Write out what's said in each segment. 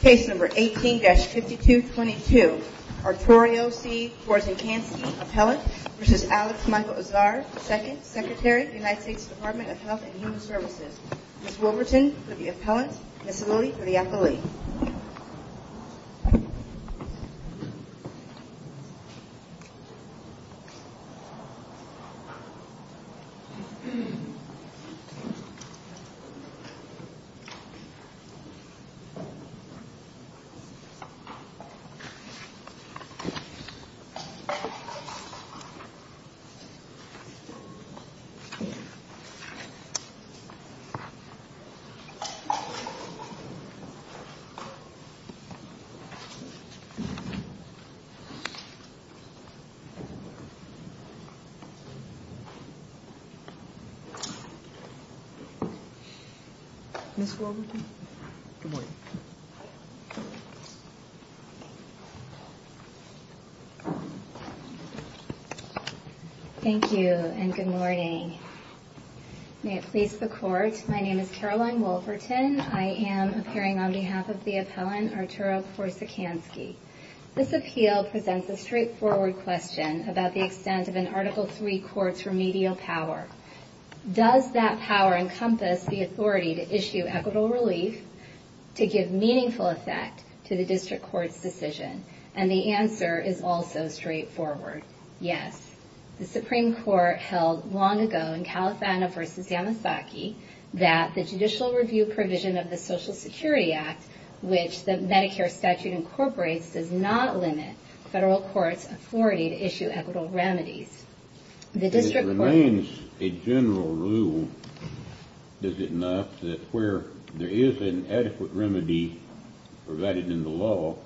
Case number 18-5222. Arturo C. Porzecanski, appellant, v. Alex Michael Azar, 2nd, Secretary, United States Department of Health and Human Services. Ms. Wilberton for the appellant. Ms. Lilly for the appellee. Ms. Wilberton for the appellee. Ms. Wilberton. Good morning. Thank you and good morning. May it please the Court, my name is Caroline Wilberton. I am appearing on behalf of the appellant Arturo Porzecanski. This appeal presents a straightforward question about the extent of an Article III court's remedial power. Does that power encompass the authority to issue equitable relief to give meaningful effect to the district court's decision? And the answer is also straightforward, yes. The Supreme Court held long ago in Califano v. Yamasaki that the judicial review provision of the Social Security Act, which the Medicare statute incorporates, does not limit federal court's authority to issue equitable remedies. It remains a general rule, does it not, that where there is an adequate remedy provided in the law,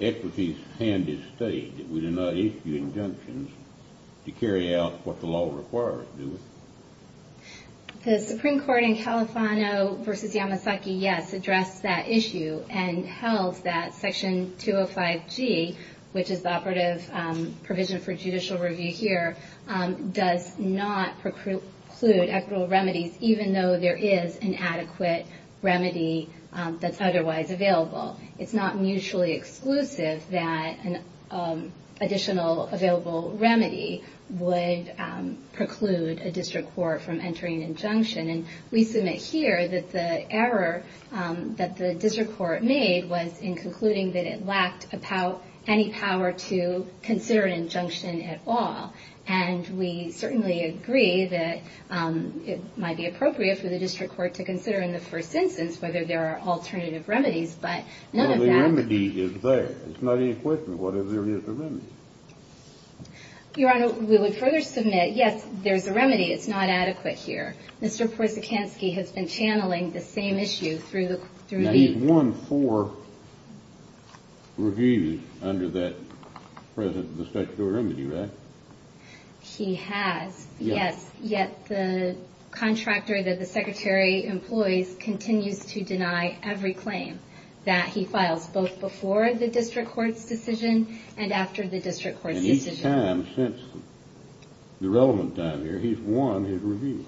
equities stand as stated. We do not issue injunctions to carry out what the law requires, do we? The Supreme Court in Califano v. Yamasaki, yes, addressed that issue and held that Section 205G, which is the operative provision for judicial review here, does not preclude equitable remedies even though there is an adequate remedy that's otherwise available. It's not mutually exclusive that an additional available remedy would preclude a district court from entering an injunction. And we submit here that the error that the district court made was in concluding that it lacked any power to consider an injunction at all. And we certainly agree that it might be appropriate for the district court to consider in the first instance whether there are alternative remedies, but none of that — Well, the remedy is there. It's not an equation. What if there is a remedy? Your Honor, we would further submit, yes, there's a remedy. It's not adequate here. Mr. Porzekanski has been channeling the same issue through the — Now, he's won four reviews under that — present the statutory remedy, right? He has, yes. Yet the contractor that the Secretary employs continues to deny every claim that he files, both before the district court's decision and after the district court's decision. Since the relevant time here, he's won his review.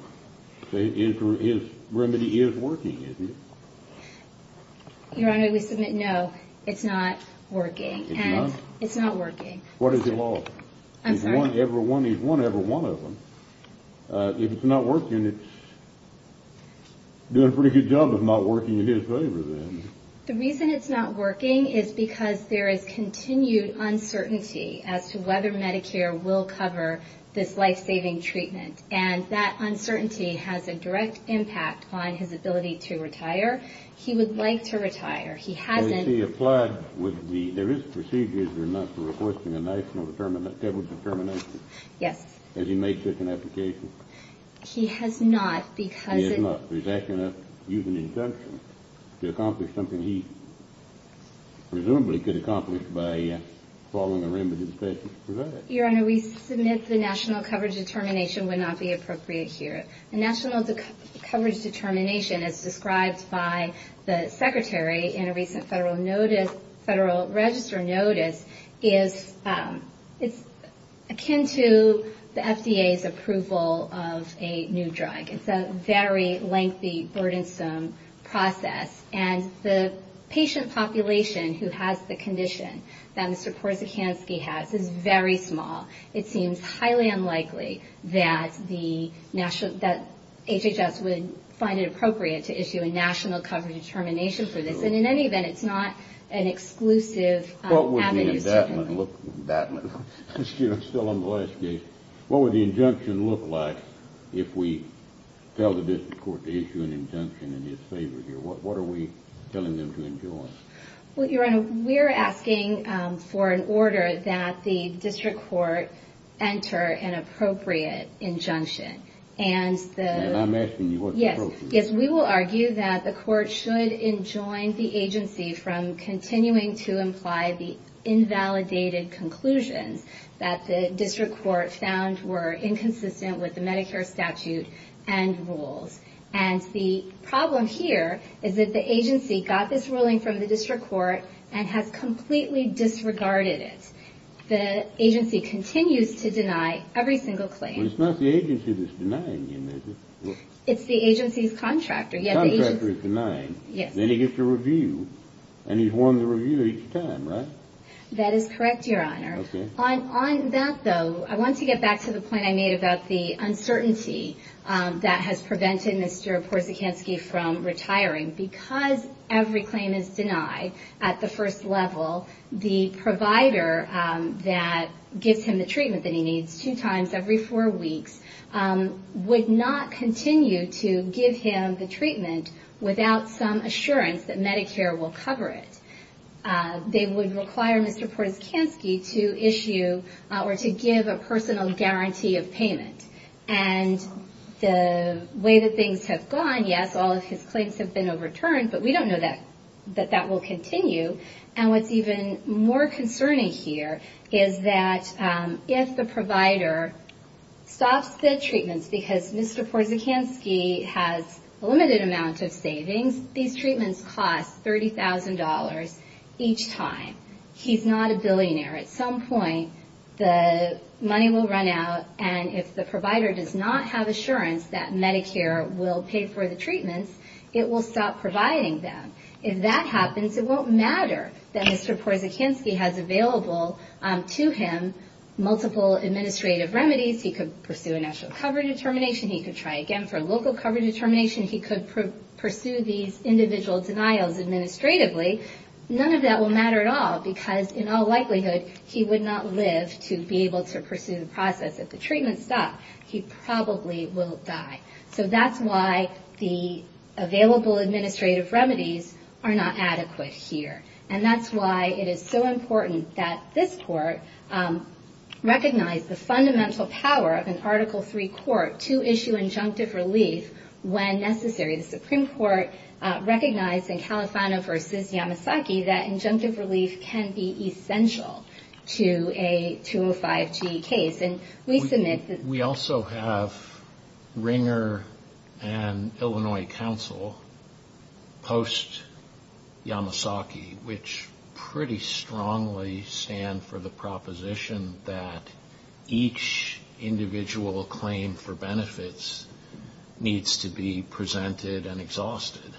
So his remedy is working, isn't it? Your Honor, we submit, no, it's not working. It's not? It's not working. What has he lost? I'm sorry? He's won every one of them. If it's not working, it's doing a pretty good job of not working in his favor, then. The reason it's not working is because there is continued uncertainty as to whether Medicare will cover this life-saving treatment. And that uncertainty has a direct impact on his ability to retire. He would like to retire. He hasn't — Well, you see, applied with the — there is procedures, Your Honor, for requesting a national determination. Yes. Has he made such an application? He has not, because — He has not. He's asking us to use an injunction to accomplish something he presumably could accomplish by following a remedy that the statute provides. Your Honor, we submit the national coverage determination would not be appropriate here. The national coverage determination, as described by the Secretary in a recent Federal Register notice, is akin to the FDA's approval of a new drug. It's a very lengthy, burdensome process. And the patient population who has the condition that Mr. Korsakansky has is very small. It seems highly unlikely that HHS would find it appropriate to issue a national coverage determination for this. And in any event, it's not an exclusive avenue. Excuse me. I'm still on the last case. What would the injunction look like if we tell the district court to issue an injunction in his favor here? What are we telling them to enjoin? Well, Your Honor, we're asking for an order that the district court enter an appropriate injunction. And I'm asking you what the appropriate — Yes, we will argue that the court should enjoin the agency from continuing to imply the invalidated conclusions that the district court found were inconsistent with the Medicare statute and rules. And the problem here is that the agency got this ruling from the district court and has completely disregarded it. The agency continues to deny every single claim. But it's not the agency that's denying him, is it? It's the agency's contractor. The contractor is denying. Yes. Then he gets a review, and he's wanting a review each time, right? That is correct, Your Honor. Okay. On that, though, I want to get back to the point I made about the uncertainty that has prevented Mr. Korsakansky from retiring. Because every claim is denied at the first level, the provider that gives him the treatment that he needs two times every four weeks would not continue to give him the treatment without some assurance that Medicare will cover it. They would require Mr. Korsakansky to issue or to give a personal guarantee of payment. And the way that things have gone, yes, all of his claims have been overturned, but we don't know that that will continue. And what's even more concerning here is that if the provider stops the treatments because Mr. Korsakansky has a limited amount of savings, these treatments cost $30,000 each time. At some point, the money will run out, and if the provider does not have assurance that Medicare will pay for the treatments, it will stop providing them. If that happens, it won't matter that Mr. Korsakansky has available to him multiple administrative remedies. He could pursue a national cover determination. He could try again for a local cover determination. He could pursue these individual denials administratively. None of that will matter at all because, in all likelihood, he would not live to be able to pursue the process. If the treatments stop, he probably will die. So that's why the available administrative remedies are not adequate here. And that's why it is so important that this court recognize the fundamental power of an Article III court to issue injunctive relief when necessary. The Supreme Court recognized in Califano v. Yamasaki that injunctive relief can be essential to a 205G case. We also have Ringer and Illinois Counsel post-Yamasaki, which pretty strongly stand for the proposition that each individual claim for benefits needs to be presented and exhausted.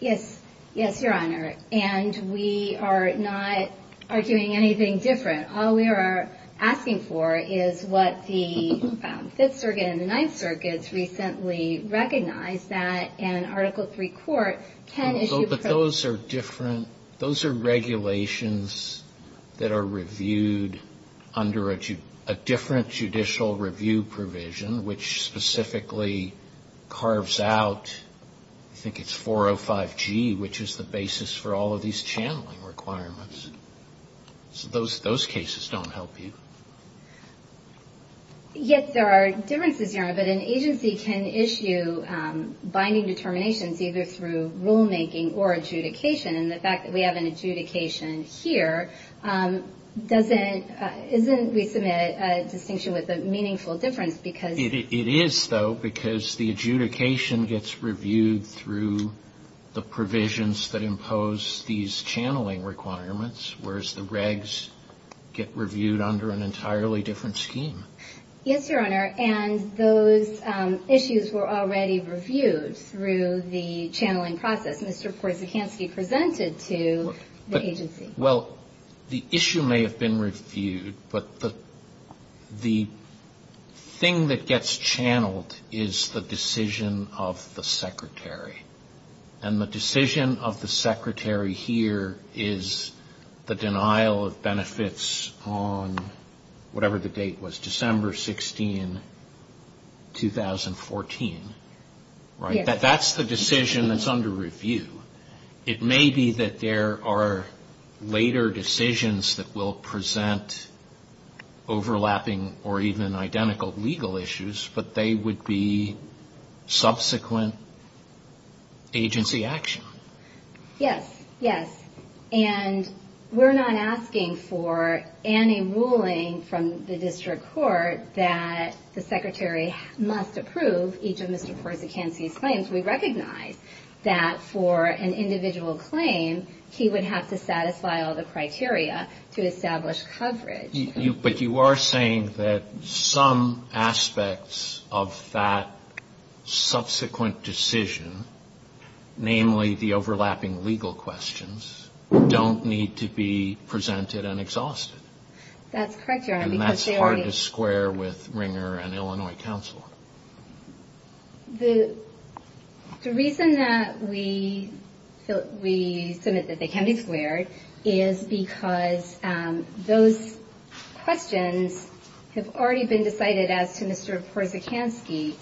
Yes, Your Honor. And we are not arguing anything different. All we are asking for is what the Fifth Circuit and the Ninth Circuit recently recognized that an Article III court can issue. But those are different. Those are regulations that are reviewed under a different judicial review provision, which specifically carves out, I think it's 405G, which is the basis for all of these channeling requirements. So those cases don't help you. Yes, there are differences, Your Honor, but an agency can issue binding determinations either through rulemaking or adjudication. And the fact that we have an adjudication here doesn't, isn't, we submit a distinction with a meaningful difference because It is, though, because the adjudication gets reviewed through the provisions that impose these channeling requirements, whereas the regs get reviewed under an entirely different scheme. Yes, Your Honor. And those issues were already reviewed through the channeling process. Mr. Korsakansky presented to the agency. Well, the issue may have been reviewed, but the thing that gets channeled is the decision of the secretary. And the decision of the secretary here is the denial of benefits on whatever the date was, December 16, 2014, right? Yes. That's the decision that's under review. It may be that there are later decisions that will present overlapping or even identical legal issues, but they would be subsequent agency action. Yes, yes. And we're not asking for any ruling from the district court that the secretary must approve each of Mr. Korsakansky's claims. We recognize that for an individual claim, he would have to satisfy all the criteria to establish coverage. But you are saying that some aspects of that subsequent decision, namely the overlapping legal questions, don't need to be presented and exhausted. That's correct, Your Honor. And that's hard to square with Ringer and Illinois counsel. The reason that we submit that they can't be squared is because those questions have already been decided as to Mr. Korsakansky.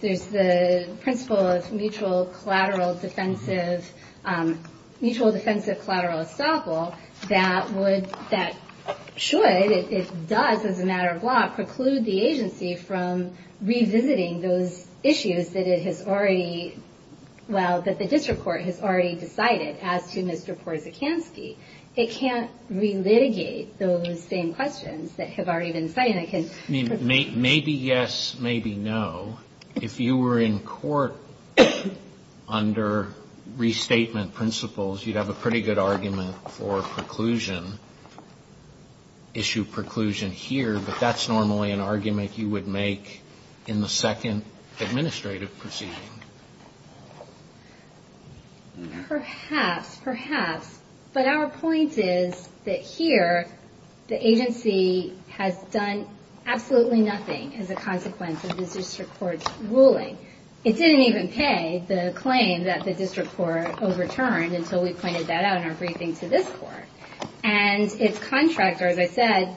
There's the principle of mutual defensive collateral estoppel that should, if it does as a matter of law, preclude the agency from revisiting those issues that the district court has already decided as to Mr. Korsakansky. It can't relitigate those same questions that have already been decided. Maybe yes, maybe no. If you were in court under restatement principles, you'd have a pretty good argument for preclusion, issue preclusion here. But that's normally an argument you would make in the second administrative proceeding. Perhaps, perhaps. But our point is that here, the agency has done absolutely nothing as a consequence of the district court's ruling. It didn't even pay the claim that the district court overturned until we pointed that out in our briefing to this court. And its contractor, as I said,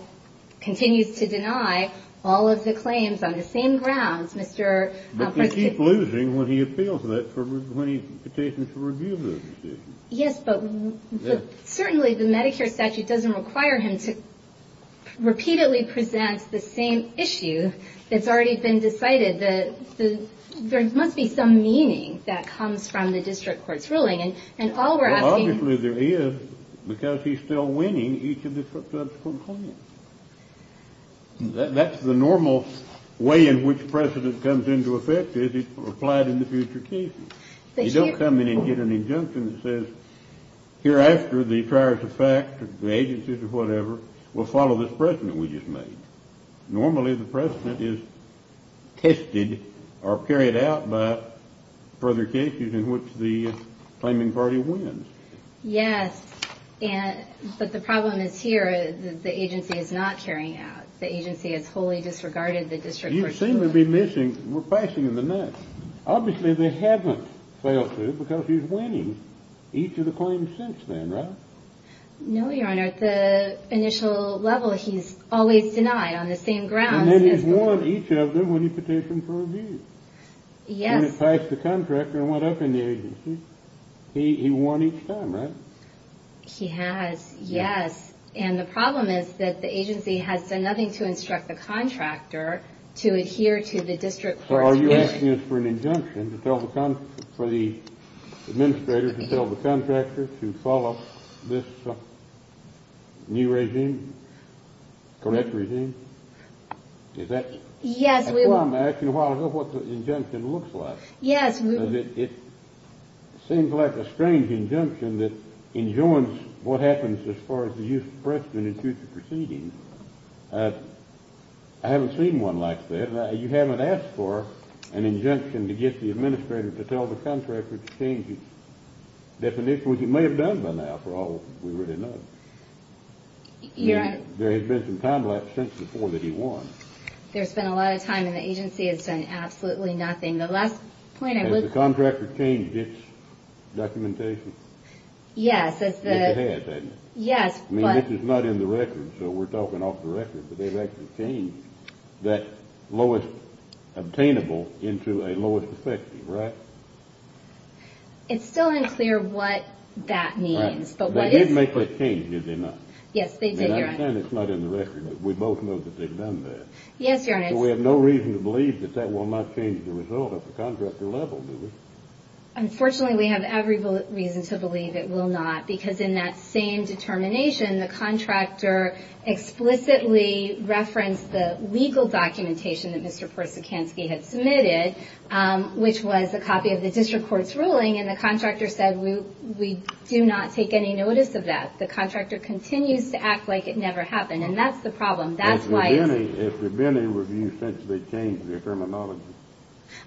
continues to deny all of the claims on the same grounds, Mr. Korsakansky. And he keeps losing when he appeals that, when he's petitioned to review those decisions. Yes, but certainly the Medicare statute doesn't require him to repeatedly present the same issue that's already been decided. There must be some meaning that comes from the district court's ruling. Well, obviously there is, because he's still winning each of the subsequent claims. That's the normal way in which precedent comes into effect, is it's applied in the future cases. You don't come in and get an injunction that says, hereafter the prior to fact, the agencies or whatever, will follow this precedent we just made. Normally the precedent is tested or carried out by further cases in which the claiming party wins. Yes, but the problem is here that the agency is not carrying out, the agency has wholly disregarded the district court's ruling. You seem to be missing, we're passing in the nuts. Obviously they haven't failed to because he's winning each of the claims since then, right? No, Your Honor, at the initial level he's always denied on the same grounds. And then he's won each of them when he petitioned for review. Yes. He didn't pass the contractor and went up in the agency. He won each time, right? He has, yes. And the problem is that the agency has done nothing to instruct the contractor to adhere to the district court's ruling. So are you asking us for an injunction for the administrator to tell the contractor to follow this new regime, correct regime? Yes, we will. I'm asking what the injunction looks like. Yes, we will. It seems like a strange injunction that enjoins what happens as far as the use of precedent in future proceedings. I haven't seen one like that. You haven't asked for an injunction to get the administrator to tell the contractor to change his definition, which he may have done by now for all we really know. Your Honor. There has been some time lapse since before that he won. There's been a lot of time and the agency has done absolutely nothing. Has the contractor changed its documentation? Yes. It has, hasn't it? Yes. I mean, this is not in the record, so we're talking off the record, but they've actually changed that lowest obtainable into a lowest effective, right? It's still unclear what that means. They did make that change, did they not? Yes, they did, Your Honor. I understand it's not in the record, but we both know that they've done that. Yes, Your Honor. So we have no reason to believe that that will not change the result at the contractor level, do we? Unfortunately, we have every reason to believe it will not, because in that same determination, the contractor explicitly referenced the legal documentation that Mr. Persikansky had submitted, which was a copy of the district court's ruling, and the contractor said, we do not take any notice of that. The contractor continues to act like it never happened, and that's the problem. That's why it's- Has there been a review since they changed their terminology?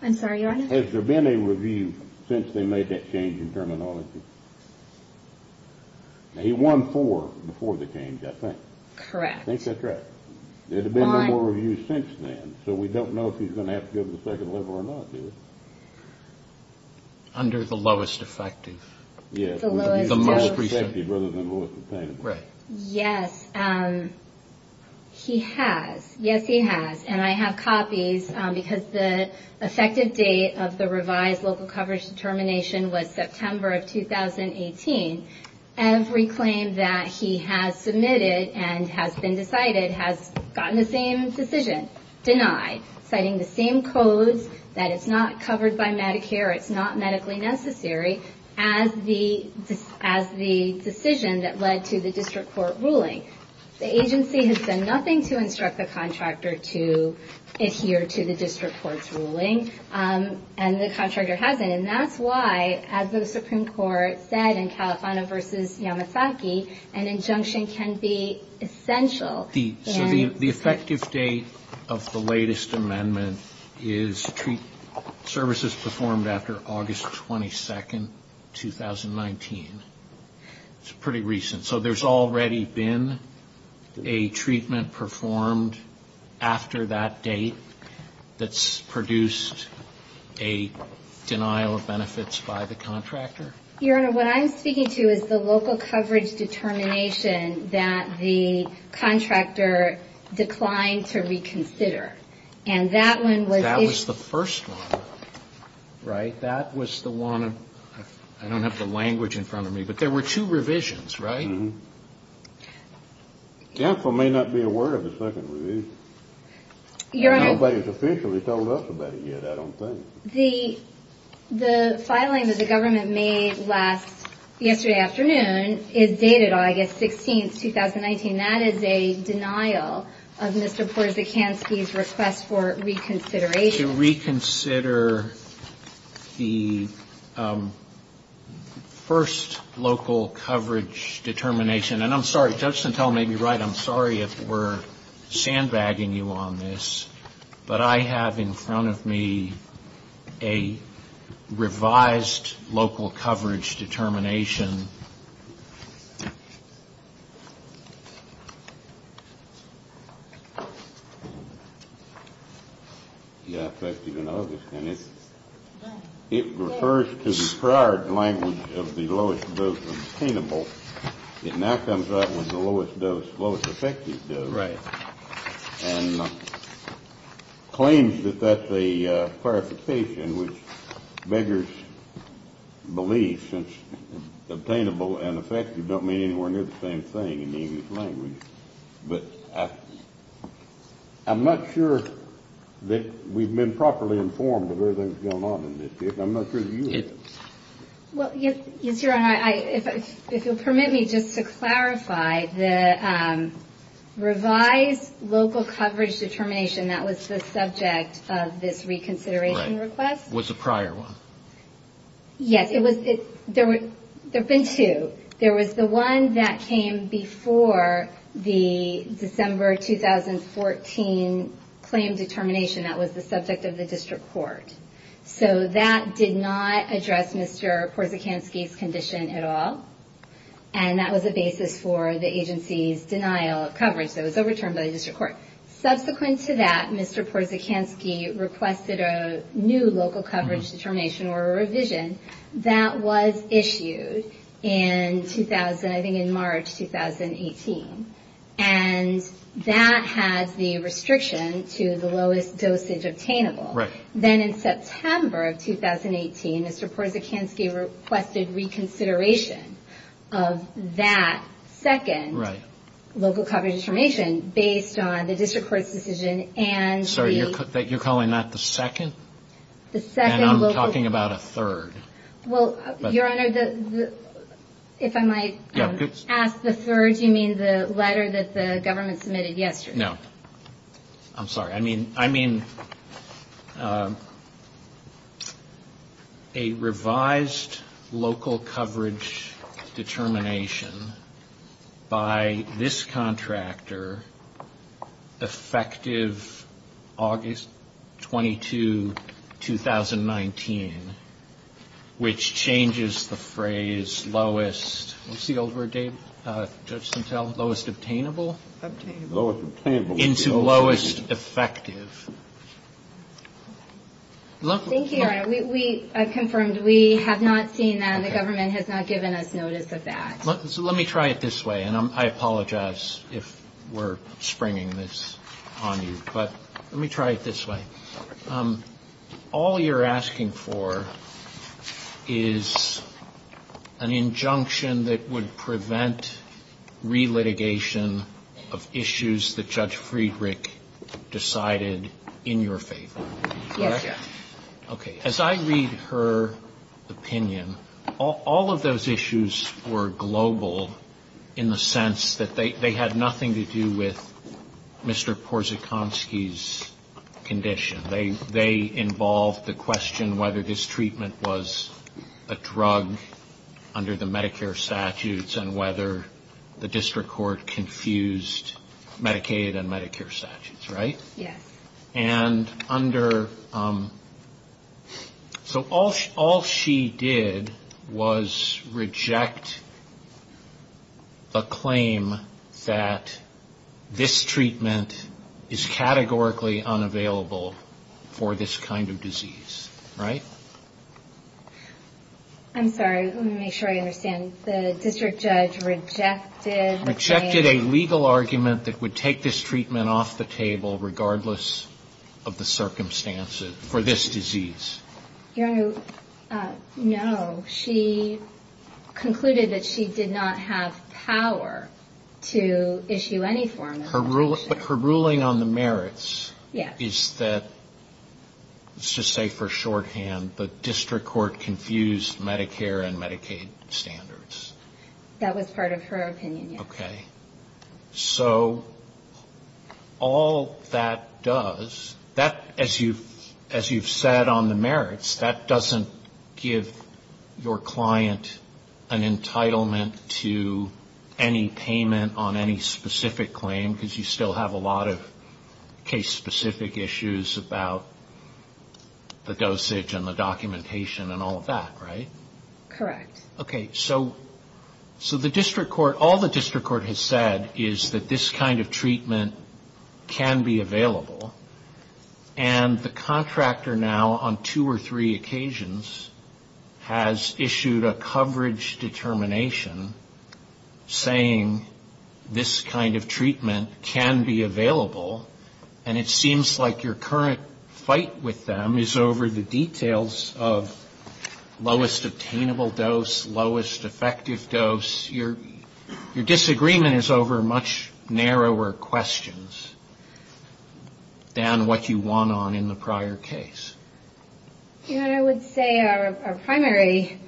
I'm sorry, Your Honor? Has there been a review since they made that change in terminology? He won four before the change, I think. Correct. I think that's right. There have been no more reviews since then, so we don't know if he's going to have to go to the second level or not, do we? Under the lowest effective. The most effective rather than lowest containment. Right. Yes, he has. Yes, he has. And I have copies, because the effective date of the revised local coverage determination was September of 2018. Every claim that he has submitted and has been decided has gotten the same decision denied, citing the same codes, that it's not covered by Medicare, it's not medically necessary, as the decision that led to the district court ruling. The agency has done nothing to instruct the contractor to adhere to the district court's ruling, and the contractor hasn't. And that's why, as the Supreme Court said in Califano v. Yamasaki, an injunction can be essential. So the effective date of the latest amendment is services performed after August 22, 2019. It's pretty recent. So there's already been a treatment performed after that date that's produced a denial of benefits by the contractor? Your Honor, what I'm speaking to is the local coverage determination that the contractor declined to reconsider. And that one was if — That was the first one, right? That was the one of — I don't have the language in front of me, but there were two revisions, right? Uh-huh. The counsel may not be aware of the second revision. Your Honor — Nobody's officially told us about it yet, I don't think. The filing that the government made last — yesterday afternoon is dated August 16, 2019. That is a denial of Mr. Porzekanski's request for reconsideration. To reconsider the first local coverage determination. And I'm sorry, Judge Santel may be right. I'm sorry if we're sandbagging you on this, but I have in front of me a revised local coverage determination. Mm-hmm. Yeah, effective in August. And it refers to the prior language of the lowest dose obtainable. It now comes out with the lowest dose, lowest effective dose. Right. And claims that that's a clarification, which beggars belief, since obtainable and effective don't mean anywhere near the same thing in the English language. But I'm not sure that we've been properly informed of everything that's going on in this case. I'm not sure that you have. Well, yes, Your Honor, if you'll permit me just to clarify, the revised local coverage determination, that was the subject of this reconsideration request? Was the prior one. Yes, there have been two. There was the one that came before the December 2014 claim determination that was the subject of the district court. So that did not address Mr. Porzekanski's condition at all, and that was a basis for the agency's denial of coverage. So it was overturned by the district court. Subsequent to that, Mr. Porzekanski requested a new local coverage determination or revision that was issued in 2000, I think in March 2018. And that has the restriction to the lowest dosage obtainable. Right. Then in September of 2018, Mr. Porzekanski requested reconsideration of that second local coverage determination based on the district court's decision and the. Sorry, you're calling that the second? The second local. And I'm talking about a third. Well, Your Honor, if I might ask the third, you mean the letter that the government submitted yesterday? No. I'm sorry. I mean, a revised local coverage determination by this contractor effective August 22, 2019, which changes the phrase lowest. What's the old word, Dave? Judges can tell. Lowest obtainable? Lowest obtainable. Into lowest effective. Thank you, Your Honor. I've confirmed we have not seen that. The government has not given us notice of that. So let me try it this way, and I apologize if we're springing this on you. But let me try it this way. All you're asking for is an injunction that would prevent relitigation of issues that Judge Friedrich decided in your favor. Yes, Your Honor. Okay. As I read her opinion, all of those issues were global in the sense that they had nothing to do with Mr. Porzykonski's condition. They involved the question whether his treatment was a drug under the Medicare statutes and whether the district court confused Medicaid and Medicare statutes, right? Yes. And under — so all she did was reject the claim that this treatment is categorically unavailable for this kind of disease, right? I'm sorry. Let me make sure I understand. The district judge rejected the claim — of the circumstances for this disease. Your Honor, no. She concluded that she did not have power to issue any form of legislation. But her ruling on the merits is that — let's just say for shorthand — the district court confused Medicare and Medicaid standards. That was part of her opinion, yes. Okay. So all that does — that, as you've said on the merits, that doesn't give your client an entitlement to any payment on any specific claim, because you still have a lot of case-specific issues about the dosage and the documentation and all of that, right? Correct. Okay. So the district court — all the district court has said is that this kind of treatment can be available. And the contractor now, on two or three occasions, has issued a coverage determination saying this kind of treatment can be available. And it seems like your current fight with them is over the details of lowest obtainable dose, lowest effective dose. Your disagreement is over much narrower questions than what you won on in the prior case. Your Honor, I would say our primary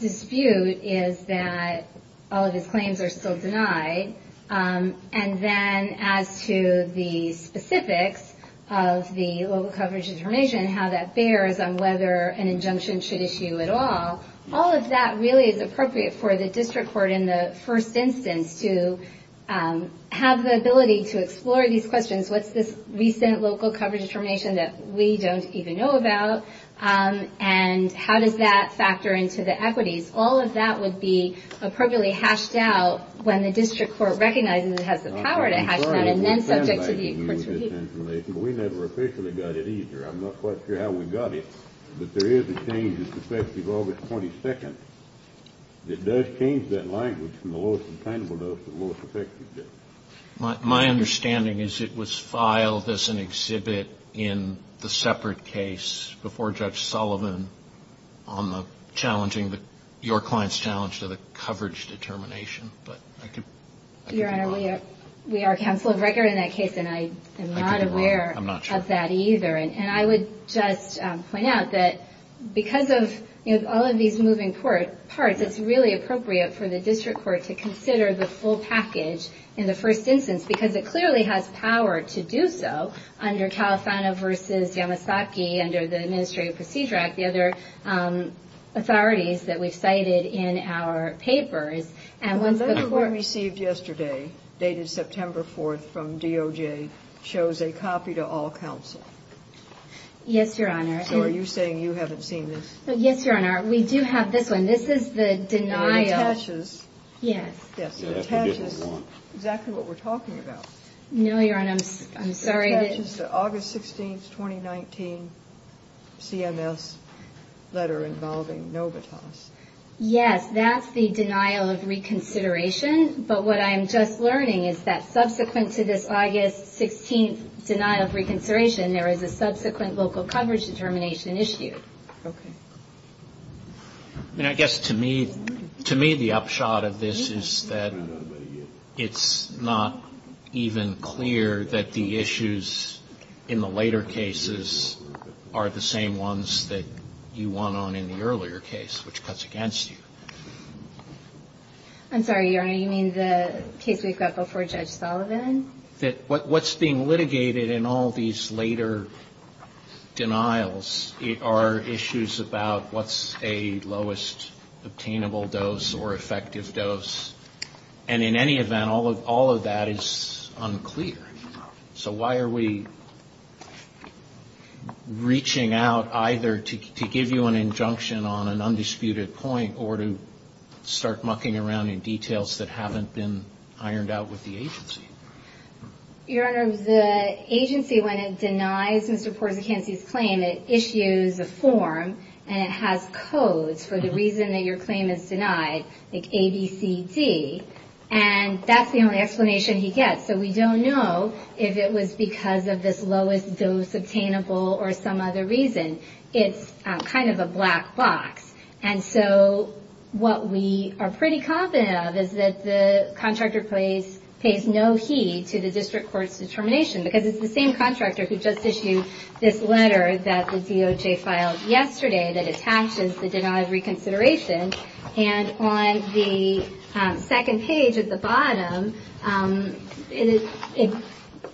dispute is that all of his claims are still denied. And then as to the specifics of the local coverage determination, how that bears on whether an injunction should issue at all, all of that really is appropriate for the district court in the first instance to have the ability to explore these questions. What's this recent local coverage determination that we don't even know about? And how does that factor into the equities? All of that would be appropriately hashed out when the district court recognizes it has the power to hash that out, and then subject to the court's review. We never officially got it either. I'm not quite sure how we got it, but there is a change that's effective August 22nd. It does change that language from the lowest obtainable dose to the lowest effective dose. My understanding is it was filed as an exhibit in the separate case before Judge Sullivan on the challenging, your client's challenge to the coverage determination. Your Honor, we are counsel of record in that case, and I am not aware of that either. And I would just point out that because of all of these moving parts, it's really appropriate for the district court to consider the full package in the first instance because it clearly has power to do so under Califano v. Yamasaki, under the Administrative Procedure Act, the other authorities that we've cited in our papers. And once the court ---- The letter we received yesterday, dated September 4th from DOJ, shows a copy to all counsel. Yes, Your Honor. So are you saying you haven't seen this? Yes, Your Honor. We do have this one. This is the denial ---- No, it attaches. Yes. Yes, it attaches exactly what we're talking about. No, Your Honor, I'm sorry. It attaches to August 16th, 2019 CMS letter involving Novitas. Yes, that's the denial of reconsideration. But what I am just learning is that subsequent to this August 16th denial of reconsideration, there is a subsequent local coverage determination issue. Okay. And I guess to me the upshot of this is that it's not even clear that the issues in the later cases are the same ones that you won on in the earlier case, which cuts against you. I'm sorry, Your Honor. You mean the case we've got before Judge Sullivan? What's being litigated in all these later denials are issues about what's a lowest obtainable dose or effective dose. And in any event, all of that is unclear. So why are we reaching out either to give you an injunction on an undisputed point or to start mucking around in details that haven't been ironed out with the agency? Your Honor, the agency, when it denies Mr. Porzecanski's claim, it issues a form and it has codes for the reason that your claim is denied, like A, B, C, D. And that's the only explanation he gets. So we don't know if it was because of this lowest dose obtainable or some other reason. It's kind of a black box. And so what we are pretty confident of is that the contractor pays no heed to the district court's determination because it's the same contractor who just issued this letter that the DOJ filed yesterday that attaches the denied reconsideration. And on the second page at the bottom,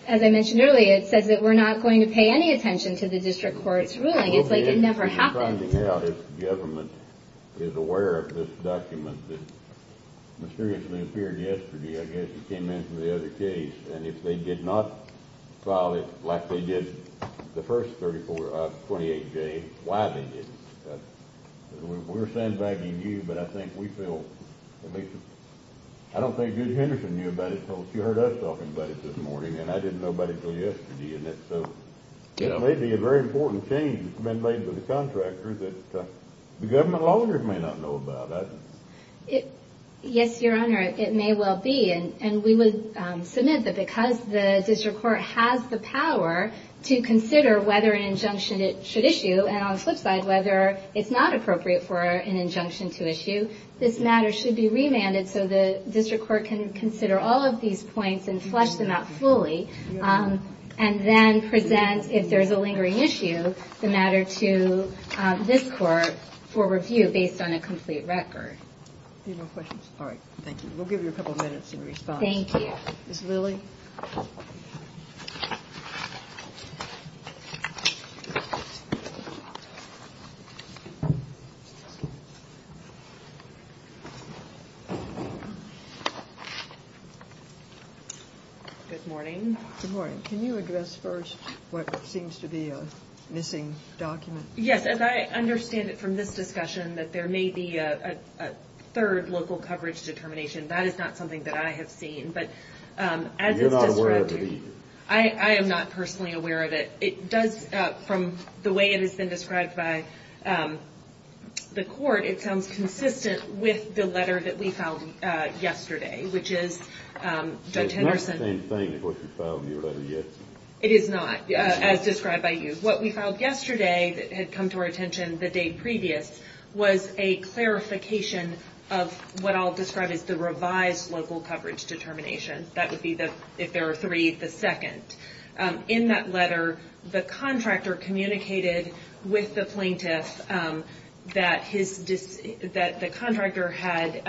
as I mentioned earlier, it says that we're not going to pay any attention to the district court's ruling. It's like it never happened. I'm trying to figure out if the government is aware of this document that mysteriously appeared yesterday. I guess it came in from the other case. And if they did not file it like they did the first 38 days, why they didn't? We're sandbagging you, but I think we feel at least – I don't think Judy Henderson knew about it until she heard us talking about it this morning, and I didn't know about it until yesterday. It may be a very important change that's been made by the contractor that the government lawyers may not know about. Yes, Your Honor, it may well be. And we would submit that because the district court has the power to consider whether an injunction it should issue and, on the flip side, whether it's not appropriate for an injunction to issue, this matter should be remanded so the district court can consider all of these points and flesh them out fully. And then present, if there's a lingering issue, the matter to this court for review based on a complete record. Any more questions? All right, thank you. We'll give you a couple minutes in response. Thank you. Ms. Lilly? Ms. Lilly? Good morning. Good morning. Can you address first what seems to be a missing document? Yes, as I understand it from this discussion that there may be a third local coverage determination. That is not something that I have seen. And you're not aware of it either? I am not personally aware of it. It does, from the way it has been described by the court, it sounds consistent with the letter that we filed yesterday, which is Judge Henderson. It's not the same thing as what you filed in your letter yesterday. It is not, as described by you. What we filed yesterday that had come to our attention the day previous was a clarification of what I'll describe as the revised local coverage determination. That would be, if there are three, the second. In that letter, the contractor communicated with the plaintiff that the contractor had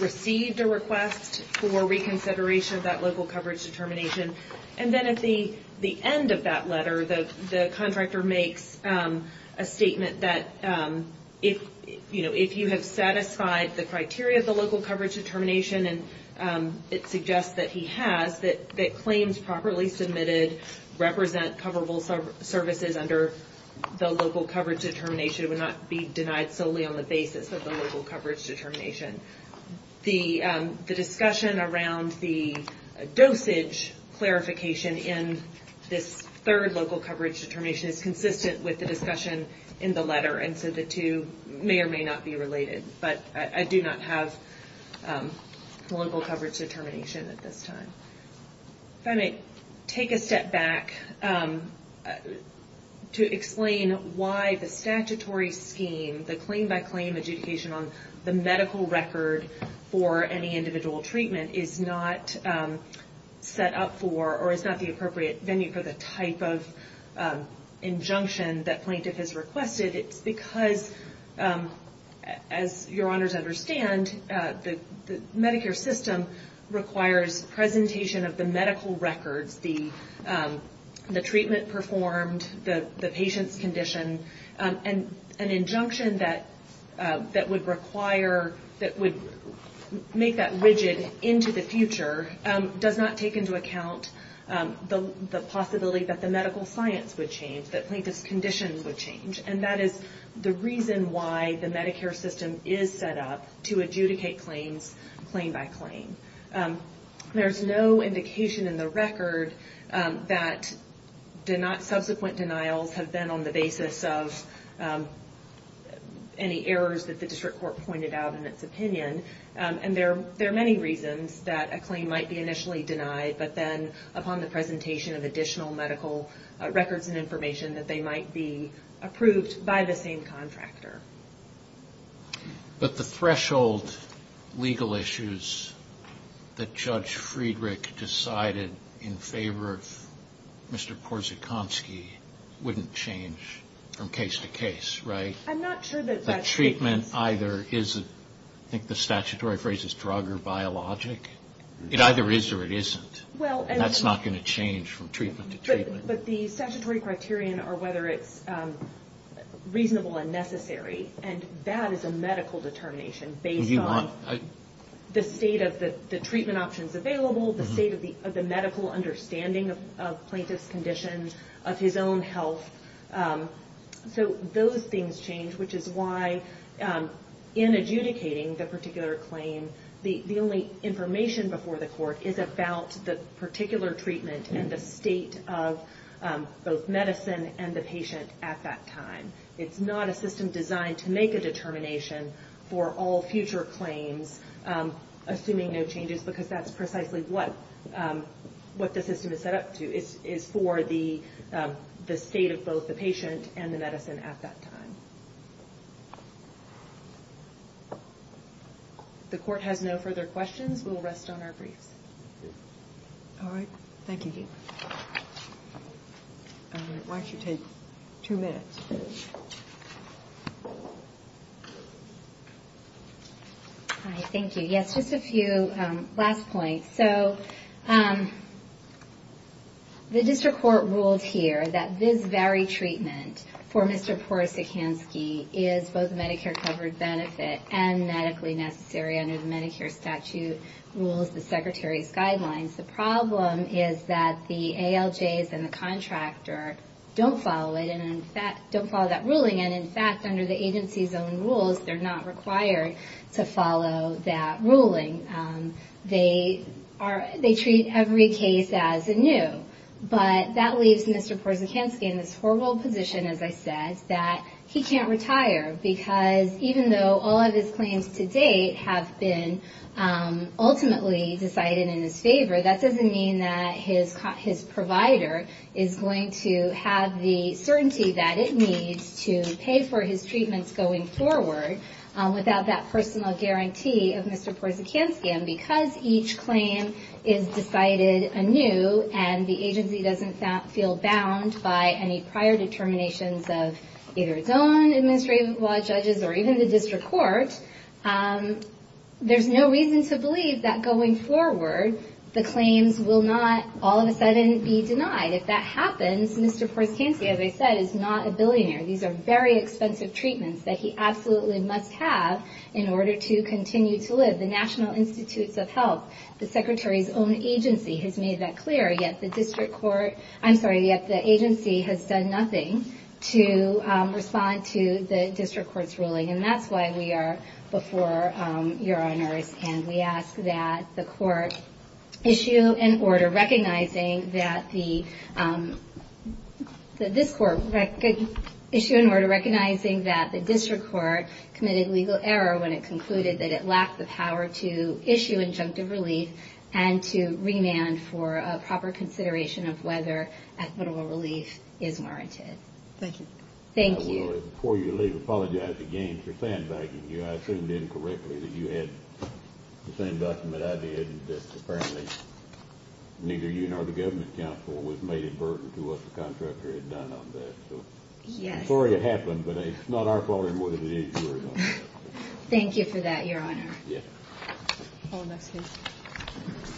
received a request for reconsideration of that local coverage determination. And then at the end of that letter, the contractor makes a statement that if you have satisfied the criteria of the local coverage determination, and it suggests that he has, that claims properly submitted represent coverable services under the local coverage determination would not be denied solely on the basis of the local coverage determination. The discussion around the dosage clarification in this third local coverage determination is consistent with the discussion in the letter, and so the two may or may not be related. But I do not have the local coverage determination at this time. If I may take a step back to explain why the statutory scheme, the claim-by-claim adjudication on the medical record for any individual treatment is not set up for, or is not the appropriate venue for the type of injunction that plaintiff has requested. It's because, as your honors understand, the Medicare system requires presentation of the medical records, the treatment performed, the patient's condition, and an injunction that would require, that would make that rigid into the future, does not take into account the possibility that the medical science would change, that plaintiff's condition would change, and that is the reason why the Medicare system is set up to adjudicate claims claim-by-claim. There's no indication in the record that subsequent denials have been on the basis of any errors that the district court pointed out in its opinion, and there are many reasons that a claim might be initially denied, but then upon the presentation of additional medical records and information, that they might be approved by the same contractor. But the threshold legal issues that Judge Friedrich decided in favor of Mr. Porzekanski wouldn't change from case to case, right? I'm not sure that that's the case. I think the statutory phrase is drug or biologic. It either is or it isn't, and that's not going to change from treatment to treatment. But the statutory criterion are whether it's reasonable and necessary, and that is a medical determination based on the state of the treatment options available, the state of the medical understanding of plaintiff's condition, of his own health. So those things change, which is why in adjudicating the particular claim, the only information before the court is about the particular treatment and the state of both medicine and the patient at that time. It's not a system designed to make a determination for all future claims, assuming no changes, because that's precisely what the system is set up to, is for the state of both the patient and the medicine at that time. If the court has no further questions, we'll rest on our briefs. All right. Thank you. Why don't you take two minutes? Hi. Thank you. Yes, just a few last points. So the district court ruled here that this very treatment for Mr. Porosikansky is both a Medicare-covered benefit and medically necessary under the Medicare statute rules, the Secretary's guidelines. The problem is that the ALJs and the contractor don't follow it and don't follow that ruling. And in fact, under the agency's own rules, they're not required to follow that ruling. They treat every case as anew. But that leaves Mr. Porosikansky in this horrible position, as I said, that he can't retire, because even though all of his claims to date have been ultimately decided in his favor, that doesn't mean that his provider is going to have the certainty that it needs to pay for his treatments going forward without that personal guarantee of Mr. Porosikansky. And because each claim is decided anew and the agency doesn't feel bound by any prior determinations of either its own administrative law judges or even the district court, there's no reason to believe that going forward the claims will not all of a sudden be denied. If that happens, Mr. Porosikansky, as I said, is not a billionaire. These are very expensive treatments that he absolutely must have in order to continue to live. The National Institutes of Health, the Secretary's own agency, has made that clear, yet the agency has done nothing to respond to the district court's ruling. And that's why we are before your honors, and we ask that the court issue an order recognizing that the district court committed legal error when it concluded that it lacked the power to issue injunctive relief and to remand for a proper consideration of whether equitable relief is warranted. Thank you. Thank you. Before you leave, I apologize again for sandbagging you. I assumed incorrectly that you had the same document I did, and apparently neither you nor the government counsel was made a burden to what the contractor had done on that. Yes. I'm sorry it happened, but it's not our fault it would have been. Thank you for that, Your Honor. Yes. All right.